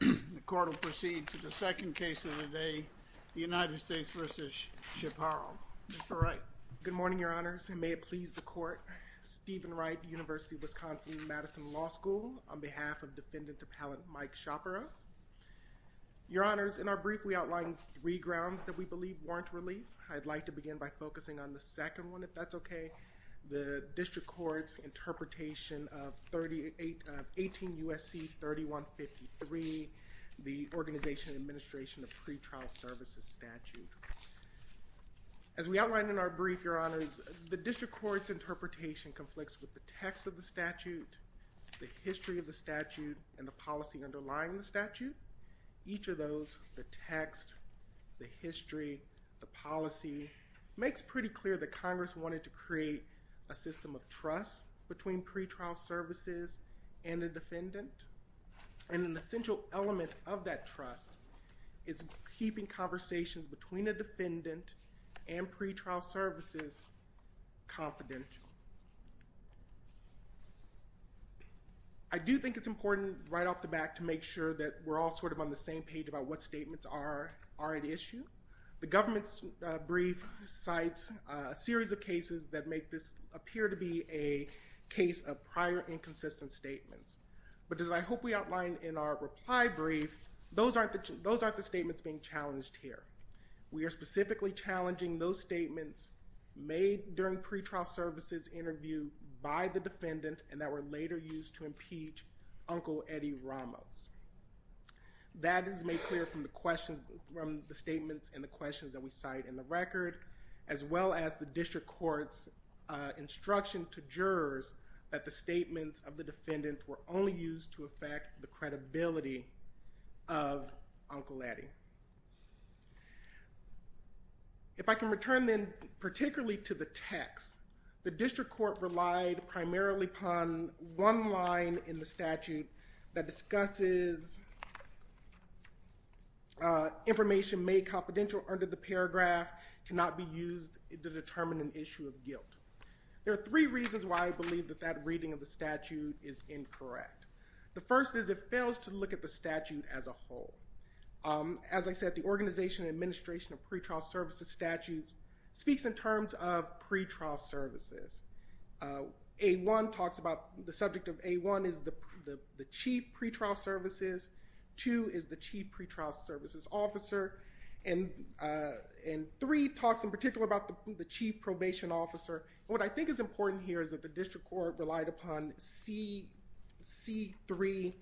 The court will proceed to the second case of the day, the United States v. Chaparro. Mr. Wright. Good morning, your honors. And may it please the court. Stephen Wright, University of Wisconsin Madison Law School, on behalf of Defendant Appellant Mike Chaparro. Your honors, in our brief, we outlined three grounds that we believe warrant relief. I'd like to begin by focusing on the second one, if that's OK. The district court's interpretation of 18 U.S.C. 3153, the Organization and Administration of Pretrial Services Statute. As we outlined in our brief, your honors, the district court's interpretation conflicts with the text of the statute, the history of the statute, and the policy underlying the statute. Each of those, the text, the history, the policy, makes pretty clear that Congress wanted to create a system of trust between pretrial services and a defendant. And an essential element of that trust is keeping conversations between a defendant and pretrial services confidential. I do think it's important, right off the bat, to make sure that we're all sort of on the same page about what statements are at issue. The government's brief cites a series of cases that make this appear to be a case of prior inconsistent statements. But as I hope we outline in our reply brief, those aren't the statements being challenged here. We are specifically challenging those statements made during pretrial services interview by the defendant and that were later used to impeach Uncle Eddie Ramos. That is made clear from the statements and the questions that we cite in the record, as well as the district court's instruction to jurors that the statements of the defendant were only used to affect the credibility of Uncle Eddie. If I can return, then, particularly to the text, the district court relied primarily upon one line in the statute that discusses information made confidential under the paragraph cannot be used to determine an issue of guilt. There are three reasons why I believe that that reading of the statute is incorrect. The first is it fails to look at the statute as a whole. As I said, the Organization and Administration of Pretrial Services Statute speaks in terms of pretrial services. A1 talks about the subject of A1 is the chief pretrial services. Two is the chief pretrial services officer. And three talks in particular about the chief probation officer. What I think is important here is that the district court relied upon C3,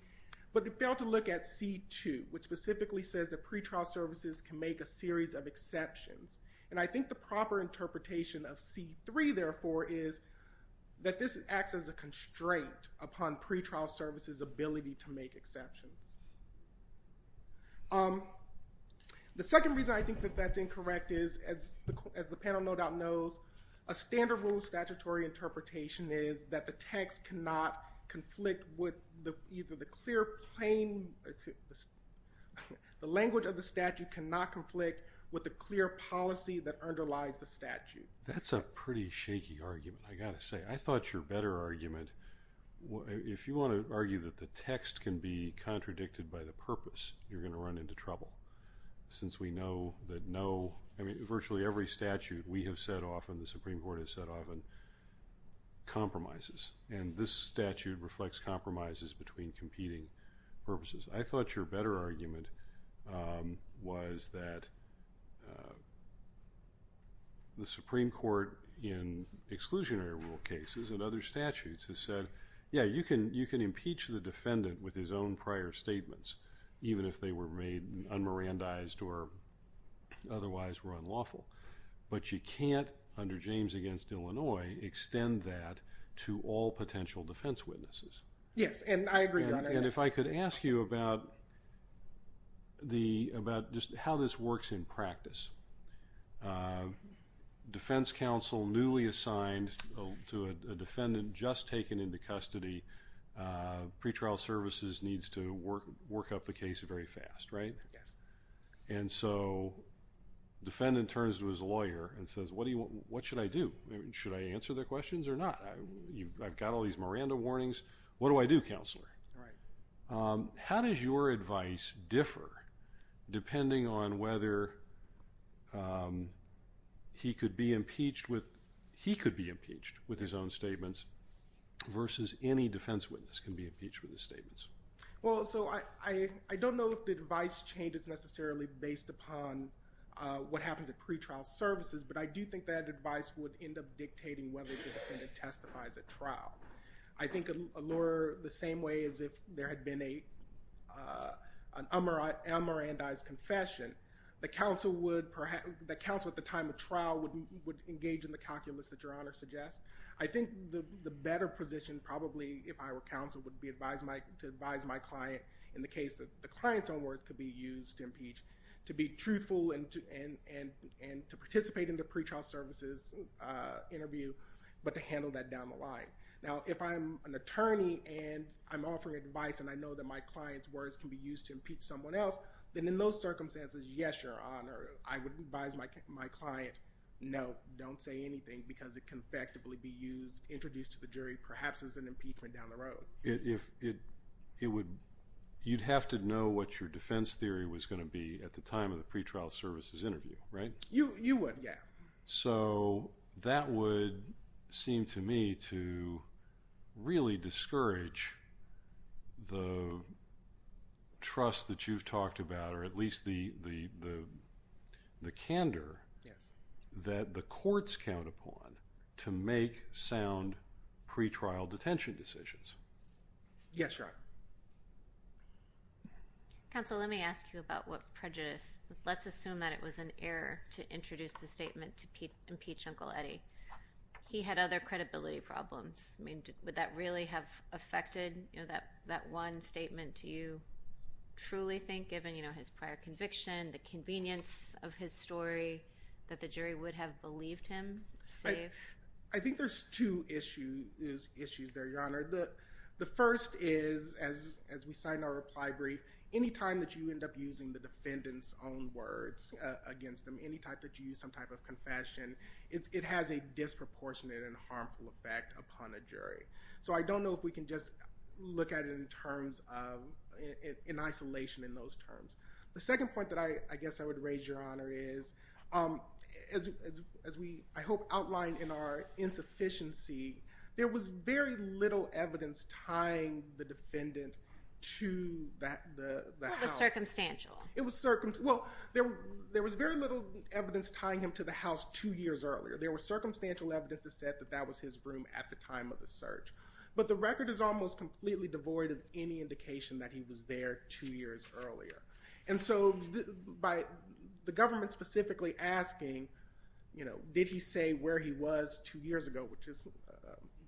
but it failed to look at C2, which specifically says that pretrial services can make a series of exceptions. And I think the proper interpretation of C3, therefore, is that this acts as a constraint upon pretrial services' ability to make exceptions. The second reason I think that that's incorrect is, as the panel no doubt knows, a standard rule statutory interpretation is that the text cannot conflict with either the clear plain, the language of the statute cannot conflict with the clear policy that underlies the statute. That's a pretty shaky argument, I got to say. I thought your better argument, if you want to argue that the text can be contradicted by the purpose, you're going to run into trouble. Since we know that virtually every statute we have set off and the Supreme Court has set off on compromises. And this statute reflects compromises between competing purposes. I thought your better argument was that the Supreme Court, in exclusionary rule cases and other statutes, has said, yeah, you can impeach the defendant with his own prior statements, even if they were made un-Mirandized or otherwise were unlawful. But you can't, under James against Illinois, Yes, and I agree, Your Honor. And if I could ask you about just how this works in practice. Defense counsel newly assigned to a defendant just taken into custody, pretrial services needs to work up the case very fast, right? And so defendant turns to his lawyer and says, what should I do? Should I answer their questions or not? I've got all these Miranda warnings, what do I do, Counselor? How does your advice differ depending on whether he could be impeached with his own statements versus any defense witness can be impeached with his statements? Well, so I don't know if the advice changes necessarily based upon what happens at pretrial services, but I do think that advice would end up dictating whether the defendant testifies at trial. I think a lawyer, the same way as if there had been a un-Mirandized confession, the counsel at the time of trial would engage in the calculus that Your Honor suggests. I think the better position probably, if I were counsel, would be to advise my client in the case that the client's own words could be used to impeach, to be truthful and to participate in the pretrial services interview, but to handle that down the line. Now, if I'm an attorney and I'm offering advice and I know that my client's words can be used to impeach someone else, then in those circumstances, yes, Your Honor, I would advise my client, no, don't say anything because it can effectively be used, introduced to the jury, perhaps as an impeachment down the road. If it would, you'd have to know what your defense theory was going to be at the time of the pretrial services interview, right? You would, yeah. So that would seem to me to really discourage the trust that you've talked about, or at least the candor that the courts count upon to make sound pretrial detention decisions. Yes, Your Honor. Counsel, let me ask you about what prejudice, let's assume that it was an error to introduce the statement to impeach Uncle Eddie. He had other credibility problems. I mean, would that really have affected that one statement to you, truly think, given his prior conviction, the convenience of his story, that the jury would have believed him safe? I think there's two issues there, Your Honor. The first is, as we sign our reply brief, any time that you end up using the defendant's own words against them, any time that you use some type of confession, it has a disproportionate and harmful effect upon a jury. So I don't know if we can just look at it in isolation in those terms. The second point that I guess I would raise, Your Honor, is, as we, I hope, outlined in our insufficiency, there was very little evidence tying the defendant to the house. Well, it was circumstantial. It was circumstantial. Well, there was very little evidence tying him to the house two years earlier. There was circumstantial evidence that said that that was his room at the time of the search. But the record is almost completely devoid of any indication that he was there two years earlier. And so by the government specifically asking, did he say where he was two years ago, which is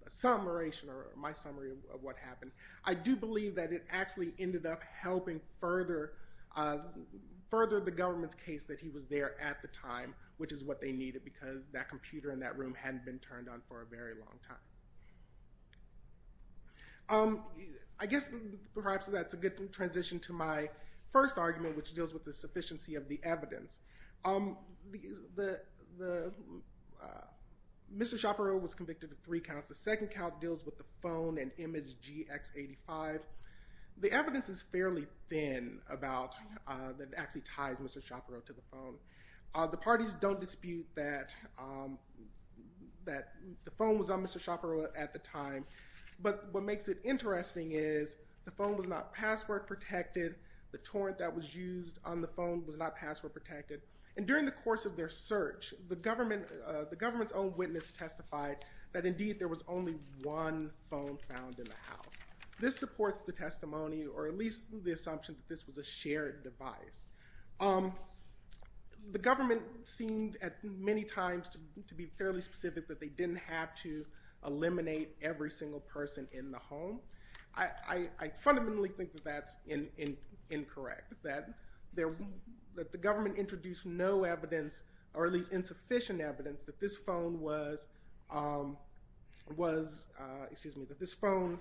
a summaration, or my summary, of what happened, I do believe that it actually ended up helping further the government's case that he was there at the time, which is what they needed, because that computer in that room hadn't been turned on for a very long time. I guess, perhaps, that's a good transition to my first argument, which deals with the sufficiency of the evidence. Mr. Shapiro was convicted of three counts. The second count deals with the phone and image GX85. The evidence is fairly thin that it actually ties Mr. Shapiro to the phone. The parties don't dispute that the phone was on Mr. Shapiro at the time. But what makes it interesting is the phone was not password protected. The torrent that was used on the phone was not password protected. And during the course of their search, that, indeed, there was only one phone found in the house. This supports the testimony, or at least the assumption that this was a shared device. The government seemed, at many times, to be fairly specific that they didn't have to eliminate every single person in the home. I fundamentally think that that's incorrect, that the government introduced no evidence, or at least insufficient evidence, that this phone was, excuse me, that this phone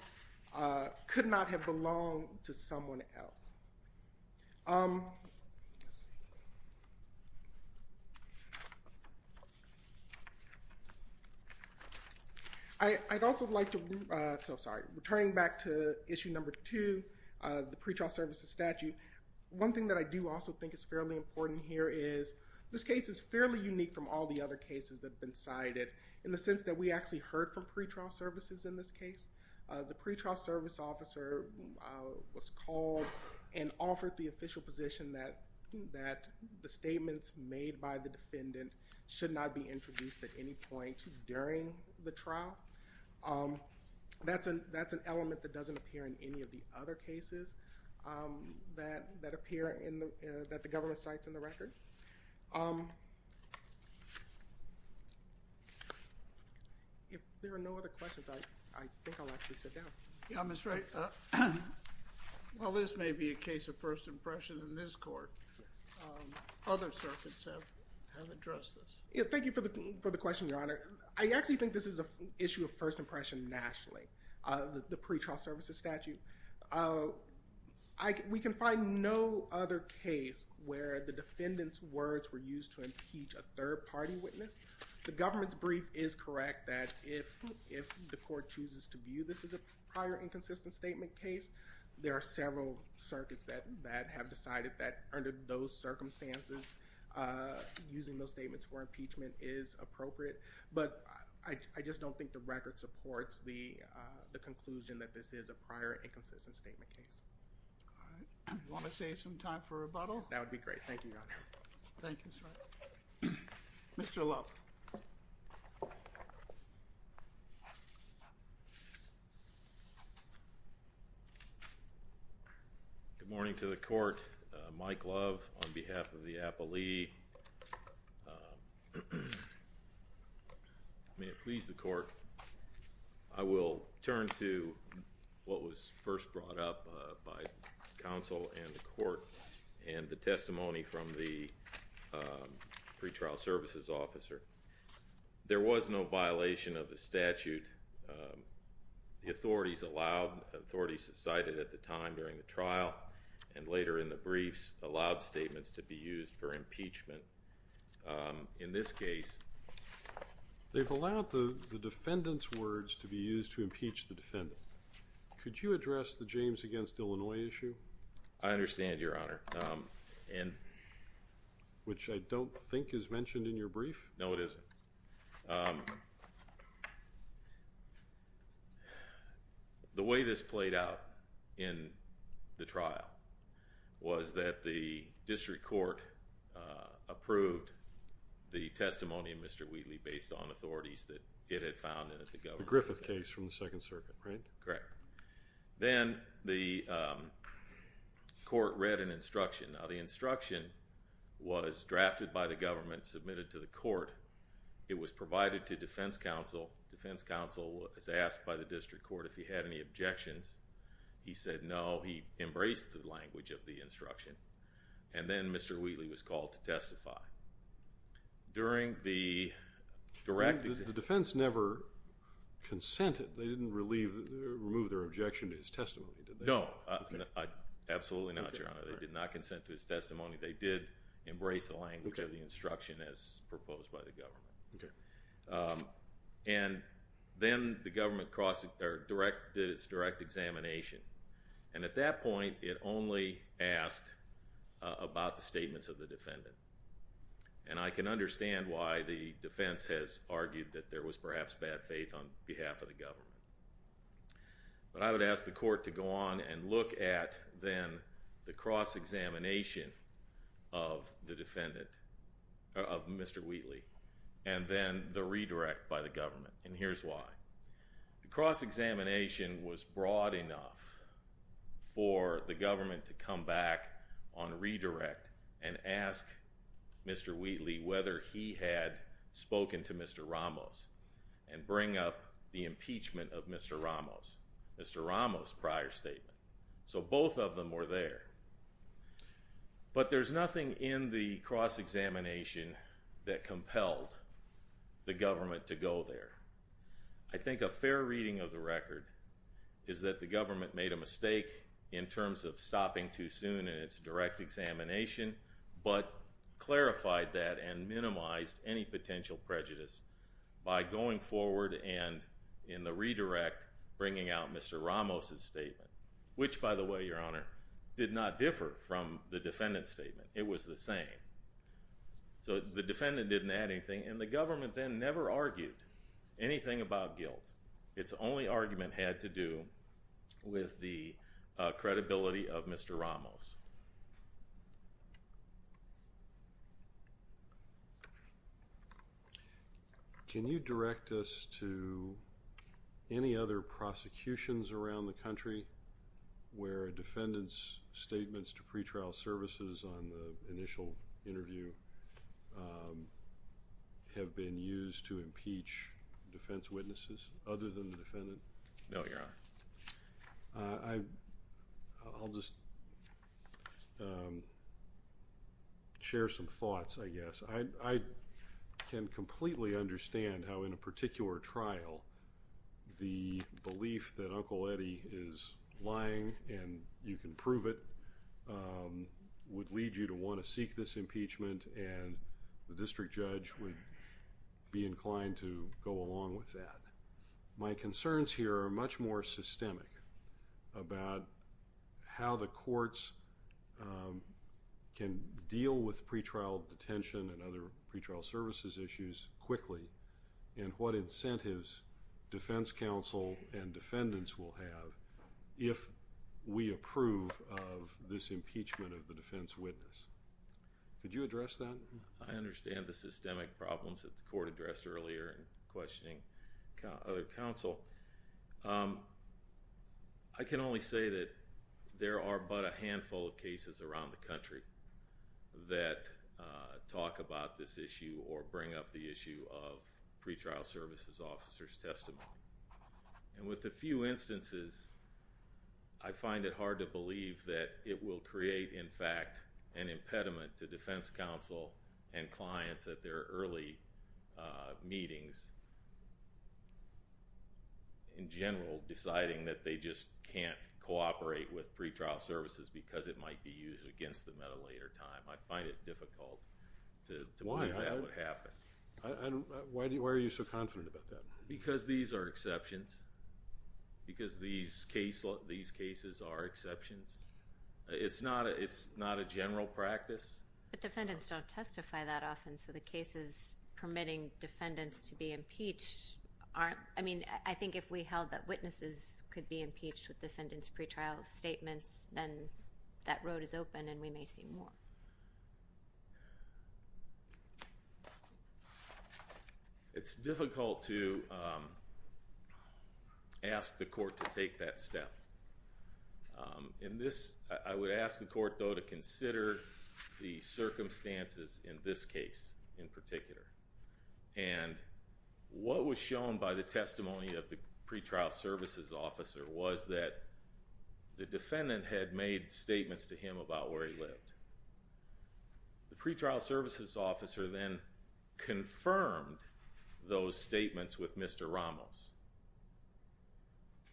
could not have belonged to someone else. I'd also like to, so sorry, returning back to issue number two, the pretrial services statute. One thing that I do also think is fairly important here is this case is fairly unique from all the other cases that have been cited in the sense that we actually heard from pretrial services in this case. The pretrial service officer was called and offered the official position that the statements made by the defendant should not be introduced at any point during the trial. That's an element that doesn't appear in any of the other cases that appear that the government cites in the record. If there are no other questions, I think I'll actually sit down. Yeah, Mr. Wright, while this may be a case of first impression in this court, other circuits have addressed this. Thank you for the question, Your Honor. I actually think this is an issue of first impression nationally, the pretrial services statute. We can find no other case where the defendant's words were used to impeach a third party witness. The government's brief is correct that if the court chooses to view this as a prior inconsistent statement case, there are several circuits that have decided that under those circumstances, using those statements for impeachment is appropriate. But I just don't think the record supports the conclusion that this is a prior inconsistent statement case. Want to save some time for rebuttal? That would be great. Thank you, Your Honor. Thank you, sir. Mr. Love. Good morning to the court. May it please the court. I will turn to what was first brought up by counsel and the court and the testimony from the pretrial services officer. There was no violation of the statute. The authorities allowed, authorities cited at the time during the trial, and later in the briefs, allowed statements to be used for impeachment. In this case, they've allowed the defendant's words to be used to impeach the defendant. Could you address the James against Illinois issue? I understand, Your Honor. Which I don't think is mentioned in your brief. No, it isn't. The way this played out in the trial was that the district court approved the testimony of Mr. Wheatley based on authorities that it had found in the government. The Griffith case from the Second Circuit, right? Correct. Then the court read an instruction. Now, the instruction was drafted by the government, submitted to the court. It was provided to defense counsel. Defense counsel was asked by the district court if he had any objections. He said no. He embraced the language of the instruction. And then Mr. Wheatley was called to testify. During the direct examination. The defense never consented. They didn't remove their objection to his testimony, did they? No. Absolutely not, Your Honor. They did not consent to his testimony. They did embrace the language of the instruction as proposed by the government. And then the government did its direct examination. And at that point, it only asked about the statements of the defendant. And I can understand why the defense has argued that there was perhaps bad faith on behalf of the government. But I would ask the court to go on and look at, then, the cross-examination of the defendant, of Mr. Wheatley, and then the redirect by the government. And here's why. The cross-examination was broad enough for the government to come back on redirect and ask Mr. Wheatley whether he had spoken to Mr. Ramos and bring up the impeachment of Mr. Ramos. Mr. Ramos' prior statement. So both of them were there. But there's nothing in the cross-examination that compelled the government to go there. I think a fair reading of the record is that the government made a mistake in terms of stopping too soon in its direct examination, but clarified that and minimized any potential prejudice by going forward and, in the redirect, bringing out Mr. Ramos' statement. Which, by the way, Your Honor, did not differ from the defendant's statement. It was the same. So the defendant didn't add anything. And the government then never argued anything about guilt. Its only argument had to do with the credibility of Mr. Ramos. Can you direct us to any other prosecutions to pretrial services on the initial interview have been used to impeach defense witnesses other than the defendant? No, Your Honor. I'll just share some thoughts, I guess. I can completely understand how, in a particular trial, the belief that Uncle Eddie is lying, and you can prove it, would lead you to want to seek this impeachment. And the district judge would be inclined to go along with that. My concerns here are much more systemic about how the courts can deal with pretrial detention and other pretrial services issues quickly, and what incentives defense counsel and defendants will have if we approve of this impeachment of the defense witness. Could you address that? I understand the systemic problems that the court addressed earlier in questioning other counsel. I can only say that there are but a handful of cases around the country that talk about this issue or bring up the issue of pretrial services officer's testimony. And with a few instances, I find it hard to believe that it will create, in fact, an impediment to defense counsel and clients at their early meetings, in general, deciding that they just can't cooperate with pretrial services because it might be used against them at a later time. I find it difficult to believe that would happen. Why are you so confident about that? Because these are exceptions. Because these cases are exceptions. It's not a general practice. But defendants don't testify that often, so the cases permitting defendants to be impeached aren't. I think if we held that witnesses could be impeached with defendants' pretrial statements, then that road is open and we may see more. It's difficult to ask the court to take that step. In this, I would ask the court, though, to consider the circumstances in this case, in particular. And what was shown by the testimony of the pretrial services officer was that the defendant had made statements to him about where he lived. The pretrial services officer then confirmed those statements with Mr. Ramos.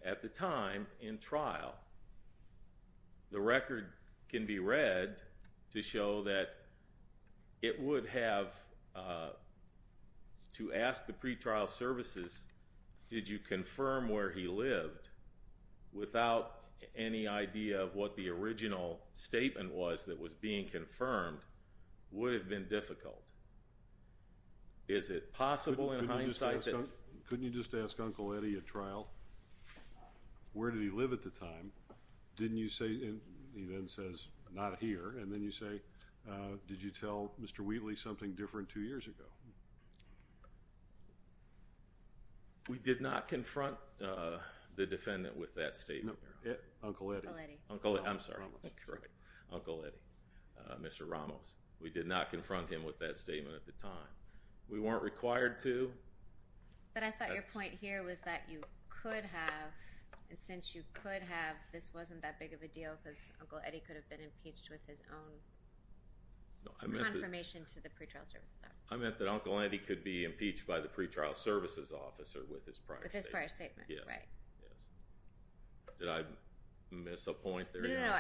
At the time in trial, the record can be read to show that it would have, to ask the pretrial services, did you confirm where he lived without any idea of what the original statement was that was being confirmed would have been difficult. Is it possible in hindsight that? Couldn't you just ask Uncle Eddie at trial, where did he live at the time? Didn't you say, he then says, not here. And then you say, did you tell Mr. Wheatley something different two years ago? No. We did not confront the defendant with that statement. Uncle Eddie. I'm sorry. Uncle Eddie. Mr. Ramos. We did not confront him with that statement at the time. We weren't required to. But I thought your point here was that you could have, and since you could have, this wasn't that big of a deal, because Uncle Eddie could have been impeached with his own confirmation to the pretrial services officer. I meant that Uncle Eddie could be impeached by the pretrial services officer with his prior statement. With his prior statement, right. Yes. Did I miss a point there? No.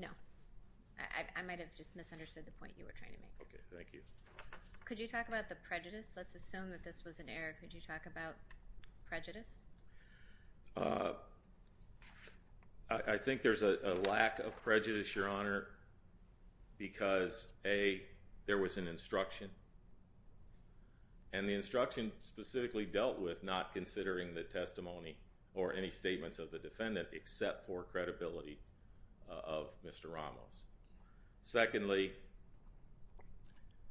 No. I might have just misunderstood the point you were trying to make. OK, thank you. Could you talk about the prejudice? Let's assume that this was an error. Could you talk about prejudice? I think there's a lack of prejudice, Your Honor, because A, there was an instruction. And the instruction specifically dealt with not considering the testimony or any statements of the defendant except for credibility of Mr. Ramos. Secondly,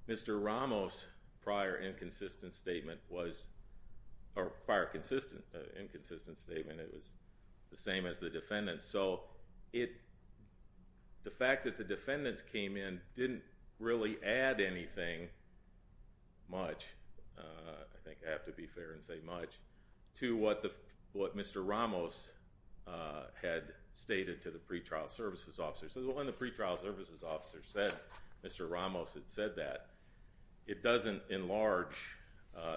Mr. Ramos' prior inconsistent statement was, or prior inconsistent statement, it was the same as the defendant's. So the fact that the defendants came in didn't really add anything much, I think I have to be fair and say much, to what Mr. Ramos had stated to the pretrial services officer. So when the pretrial services officer said, Mr. Ramos had said that, it doesn't enlarge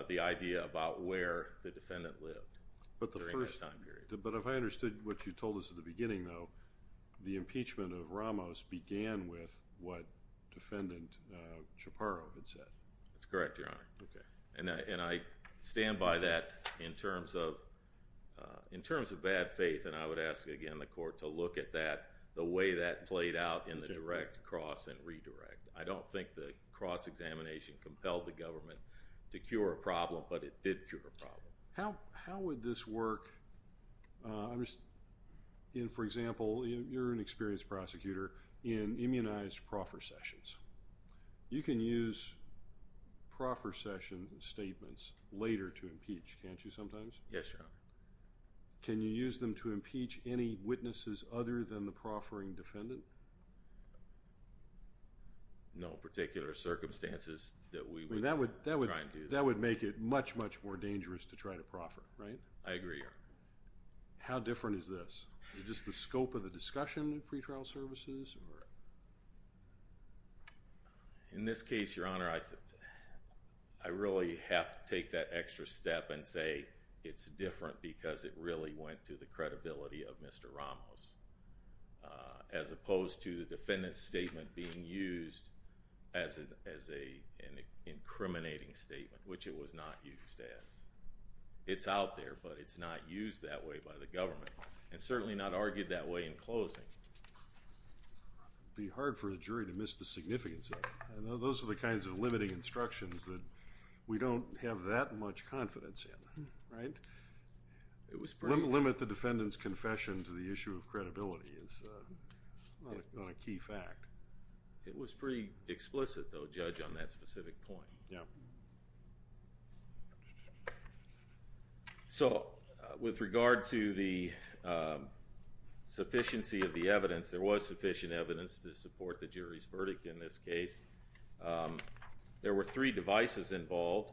the idea about where the defendant lived during that time period. But if I understood what you told us at the beginning, though, the impeachment of Ramos began with what defendant Chaparro had said. That's correct, Your Honor. And I stand by that in terms of bad faith. And I would ask, again, the court to look at that, the way that played out in the direct, cross, and redirect. I don't think the cross-examination compelled the government to cure a problem, but it did cure a problem. How would this work in, for example, you're an experienced prosecutor in immunized proffer sessions. You can use proffer session statements later to impeach, can't you sometimes? Yes, Your Honor. Can you use them to impeach any witnesses other than the proffering defendant? No particular circumstances that we would try and do that. That would make it much, much more difficult to try to proffer, right? I agree, Your Honor. How different is this? Is it just the scope of the discussion in pretrial services? In this case, Your Honor, I really have to take that extra step and say it's different because it really went to the credibility of Mr. Ramos, as opposed to the defendant's statement being used as an incriminating statement, which it was not used as. It's out there, but it's not used that way by the government, and certainly not argued that way in closing. It would be hard for the jury to miss the significance of it. Those are the kinds of limiting instructions that we don't have that much confidence in, right? It was pretty explicit. Limit the defendant's confession to the issue of credibility is not a key fact. It was pretty explicit, though, Judge, on that specific point. Yeah. So with regard to the sufficiency of the evidence, there was sufficient evidence to support the jury's verdict in this case. There were three devices involved.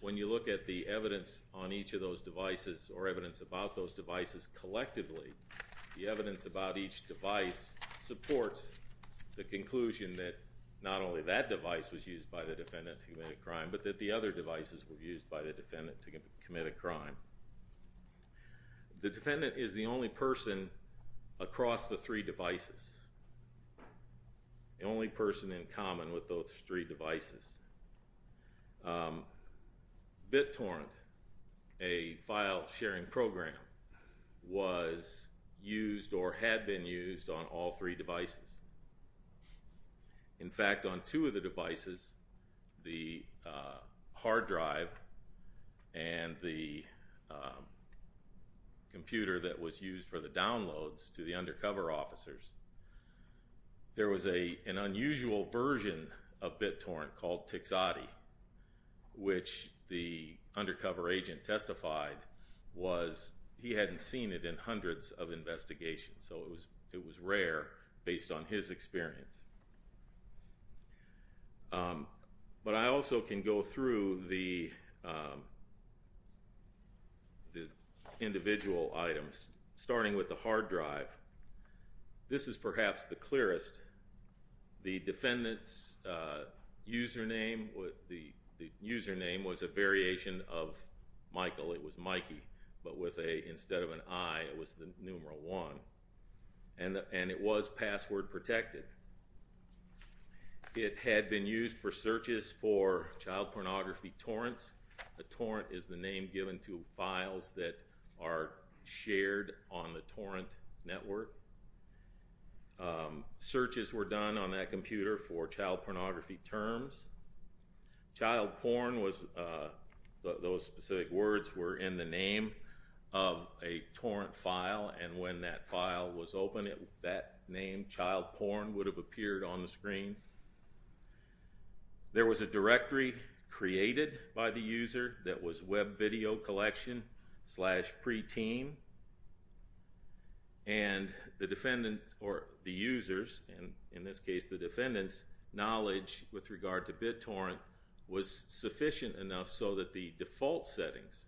When you look at the evidence on each of those devices, or evidence about those devices collectively, the evidence about each device supports the conclusion that not only that device was used by the defendant to commit a crime, but that the other devices were used by the defendant to commit a crime. The defendant is the only person across the three devices, the only person in common with those three devices. BitTorrent, a file sharing program, was used or had been used on all three devices. In fact, on two of the devices, the hard drive and the computer that was used for the downloads to the undercover officers, there was an unusual version of BitTorrent called TXOTI, which the undercover agent testified was he hadn't seen it in hundreds of investigations. So it was rare based on his experience. But I also can go through the individual items, starting with the hard drive. This is perhaps the clearest. The defendant's username was a variation of Michael. It was Mikey. But instead of an I, it was the numeral 1. And it was password protected. It had been used for searches for child pornography torrents. A torrent is the name given to files that are shared on the torrent network. Searches were done on that computer for child pornography terms. Child porn was, those specific words were in the name of a torrent file. And when that file was opened, that name, child porn, would have appeared on the screen. There was a directory created by the user that was web video collection slash pre-teen. And the defendant, or the users, and in this case the defendant's knowledge with regard to BitTorrent was sufficient enough so that the default settings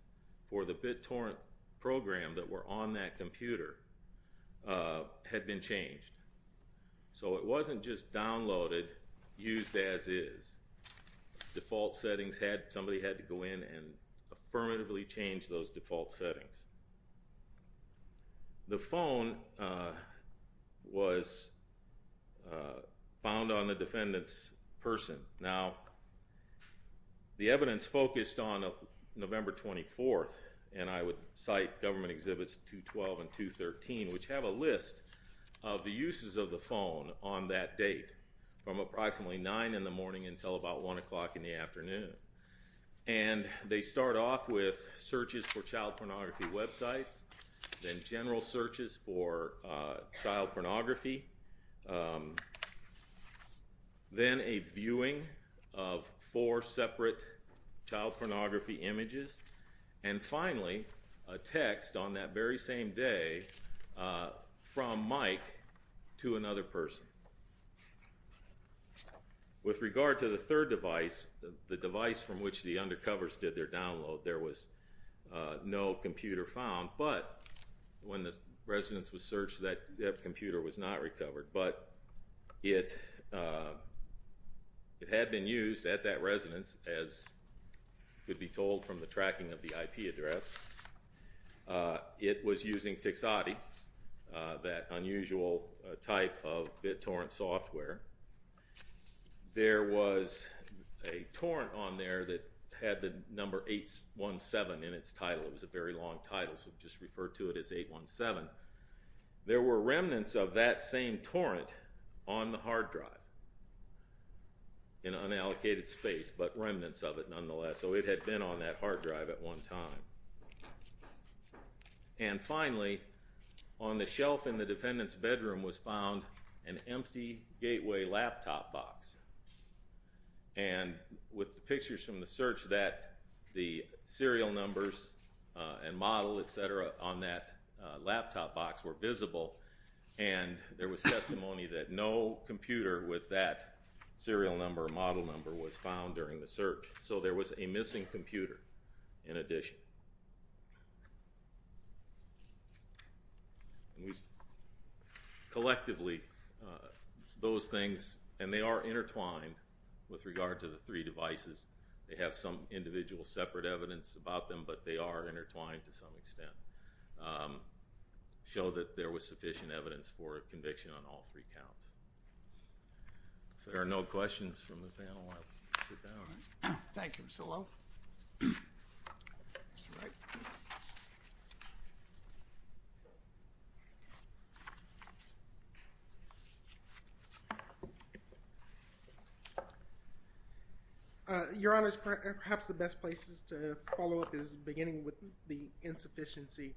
for the BitTorrent program that were on that computer had been changed. So it wasn't just downloaded, used as is. Default settings had, somebody had to go in and affirmatively change those default settings. The phone was found on the defendant's person. Now, the evidence focused on November 24th. And I would cite government exhibits 212 and 213, which have a list of the uses of the phone on that date from approximately 9 in the morning until about 1 o'clock in the afternoon. And they start off with searches for child pornography websites, then general searches for child pornography, then a viewing of four separate child pornography images, and finally, a text on that very same day from Mike to another person. With regard to the third device, the device from which the undercovers did their download, there was no computer found. But when the residence was searched, that computer was not recovered. But it had been used at that residence, as could be told from the tracking of the IP address. It was using TXADI, that unusual type of BitTorrent software. There was a torrent on there that had the number 817 in its title. It was a very long title, so just refer to it as 817. There were remnants of that same torrent on the hard drive in unallocated space, but remnants of it nonetheless. So it had been on that hard drive at one time. And finally, on the shelf in the defendant's bedroom was found an empty Gateway laptop box. And with the pictures from the search that the serial numbers and model, et cetera, on that laptop box were visible. And there was testimony that no computer with that serial number or model number was found during the search. So there was a missing computer in addition. And collectively, those things, and they are intertwined with regard to the three devices. They have some individual separate evidence about them, but they are intertwined to some extent. Show that there was sufficient evidence for conviction on all three counts. If there are no questions from the panel, I'll sit down. Thank you, Mr. Low. That's right. Your Honor, perhaps the best places to follow up is beginning with the insufficiency.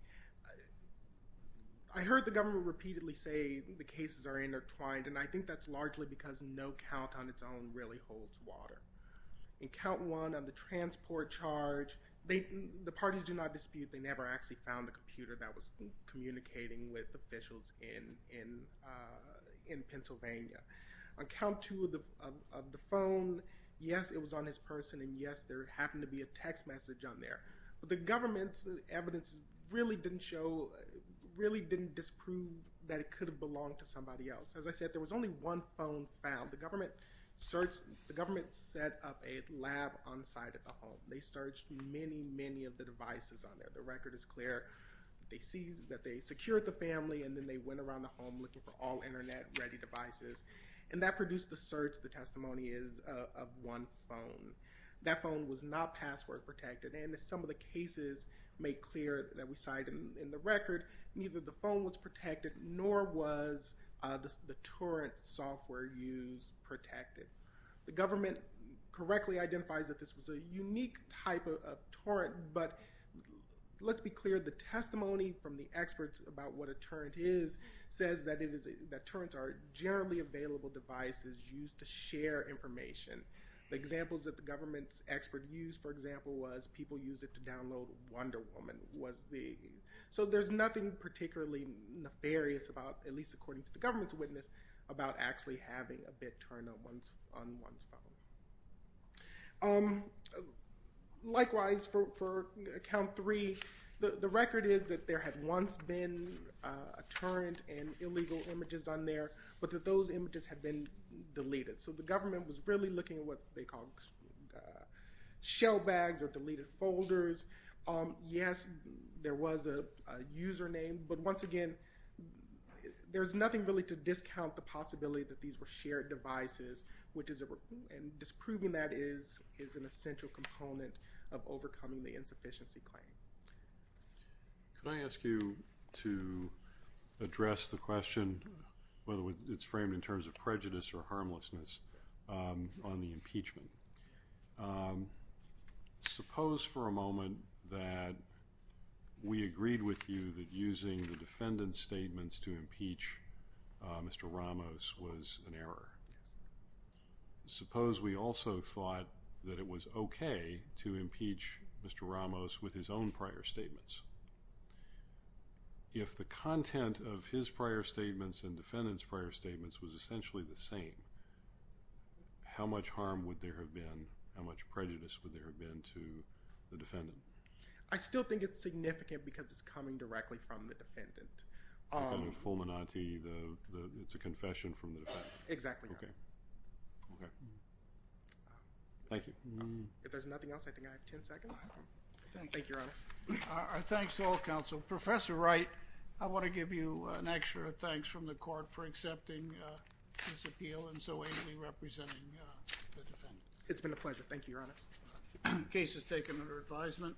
I heard the government repeatedly say the cases are intertwined. And I think that's largely because no count on its own really holds water. In count one, on the transport charge, the parties do not dispute they never actually found the computer that was communicating with officials in Pennsylvania. On count two of the phone, yes, it was on his person. And yes, there happened to be a text message on there. But the government's evidence really didn't show, really didn't disprove that it could have belonged to somebody else. As I said, there was only one phone found. The government searched, the government set up a lab on site at the home. They searched many, many of the devices on there. The record is clear. They seized, that they secured the family. And then they went around the home looking for all internet ready devices. And that produced the search, the testimony is, of one phone. That phone was not password protected. And as some of the cases make clear that we cite in the record, neither the phone was protected, nor was the torrent software used protected. The government correctly identifies that this was a unique type of torrent. But let's be clear, the testimony from the experts about what a torrent is says that torrents are generally available devices used to share information. The examples that the government's expert used, for example, was people use it to download Wonder Woman. So there's nothing particularly nefarious about, at least according to the government's witness, about actually having a bit torrent on one's phone. Likewise, for account three, the record is that there had once been a torrent and illegal images on there, but that those images had been deleted. So the government was really looking at what they called shell bags or deleted folders. Yes, there was a username. But once again, there's nothing really to discount the possibility that these were shared devices. And disproving that is an essential component of overcoming the insufficiency claim. Can I ask you to address the question, whether it's framed in terms of prejudice or harmlessness, on the impeachment? Suppose for a moment that we agreed with you that using the defendant's statements to impeach Mr. Ramos was an error. Suppose we also thought that it was OK to impeach Mr. Ramos with his own prior statements. If the content of his prior statements and defendant's prior statements was essentially the same, how much harm would there have been? How much prejudice would there have been to the defendant? I still think it's significant because it's coming directly from the defendant. Fulminante, it's a confession from the defendant. Exactly. OK. Thank you. If there's nothing else, I think I have 10 seconds. Thank you, Your Honor. Thanks to all counsel. Professor Wright, I want to give you an extra thanks from the court for accepting this appeal and so aptly representing the defendant. It's been a pleasure. Thank you, Your Honor. Case is taken under advisement.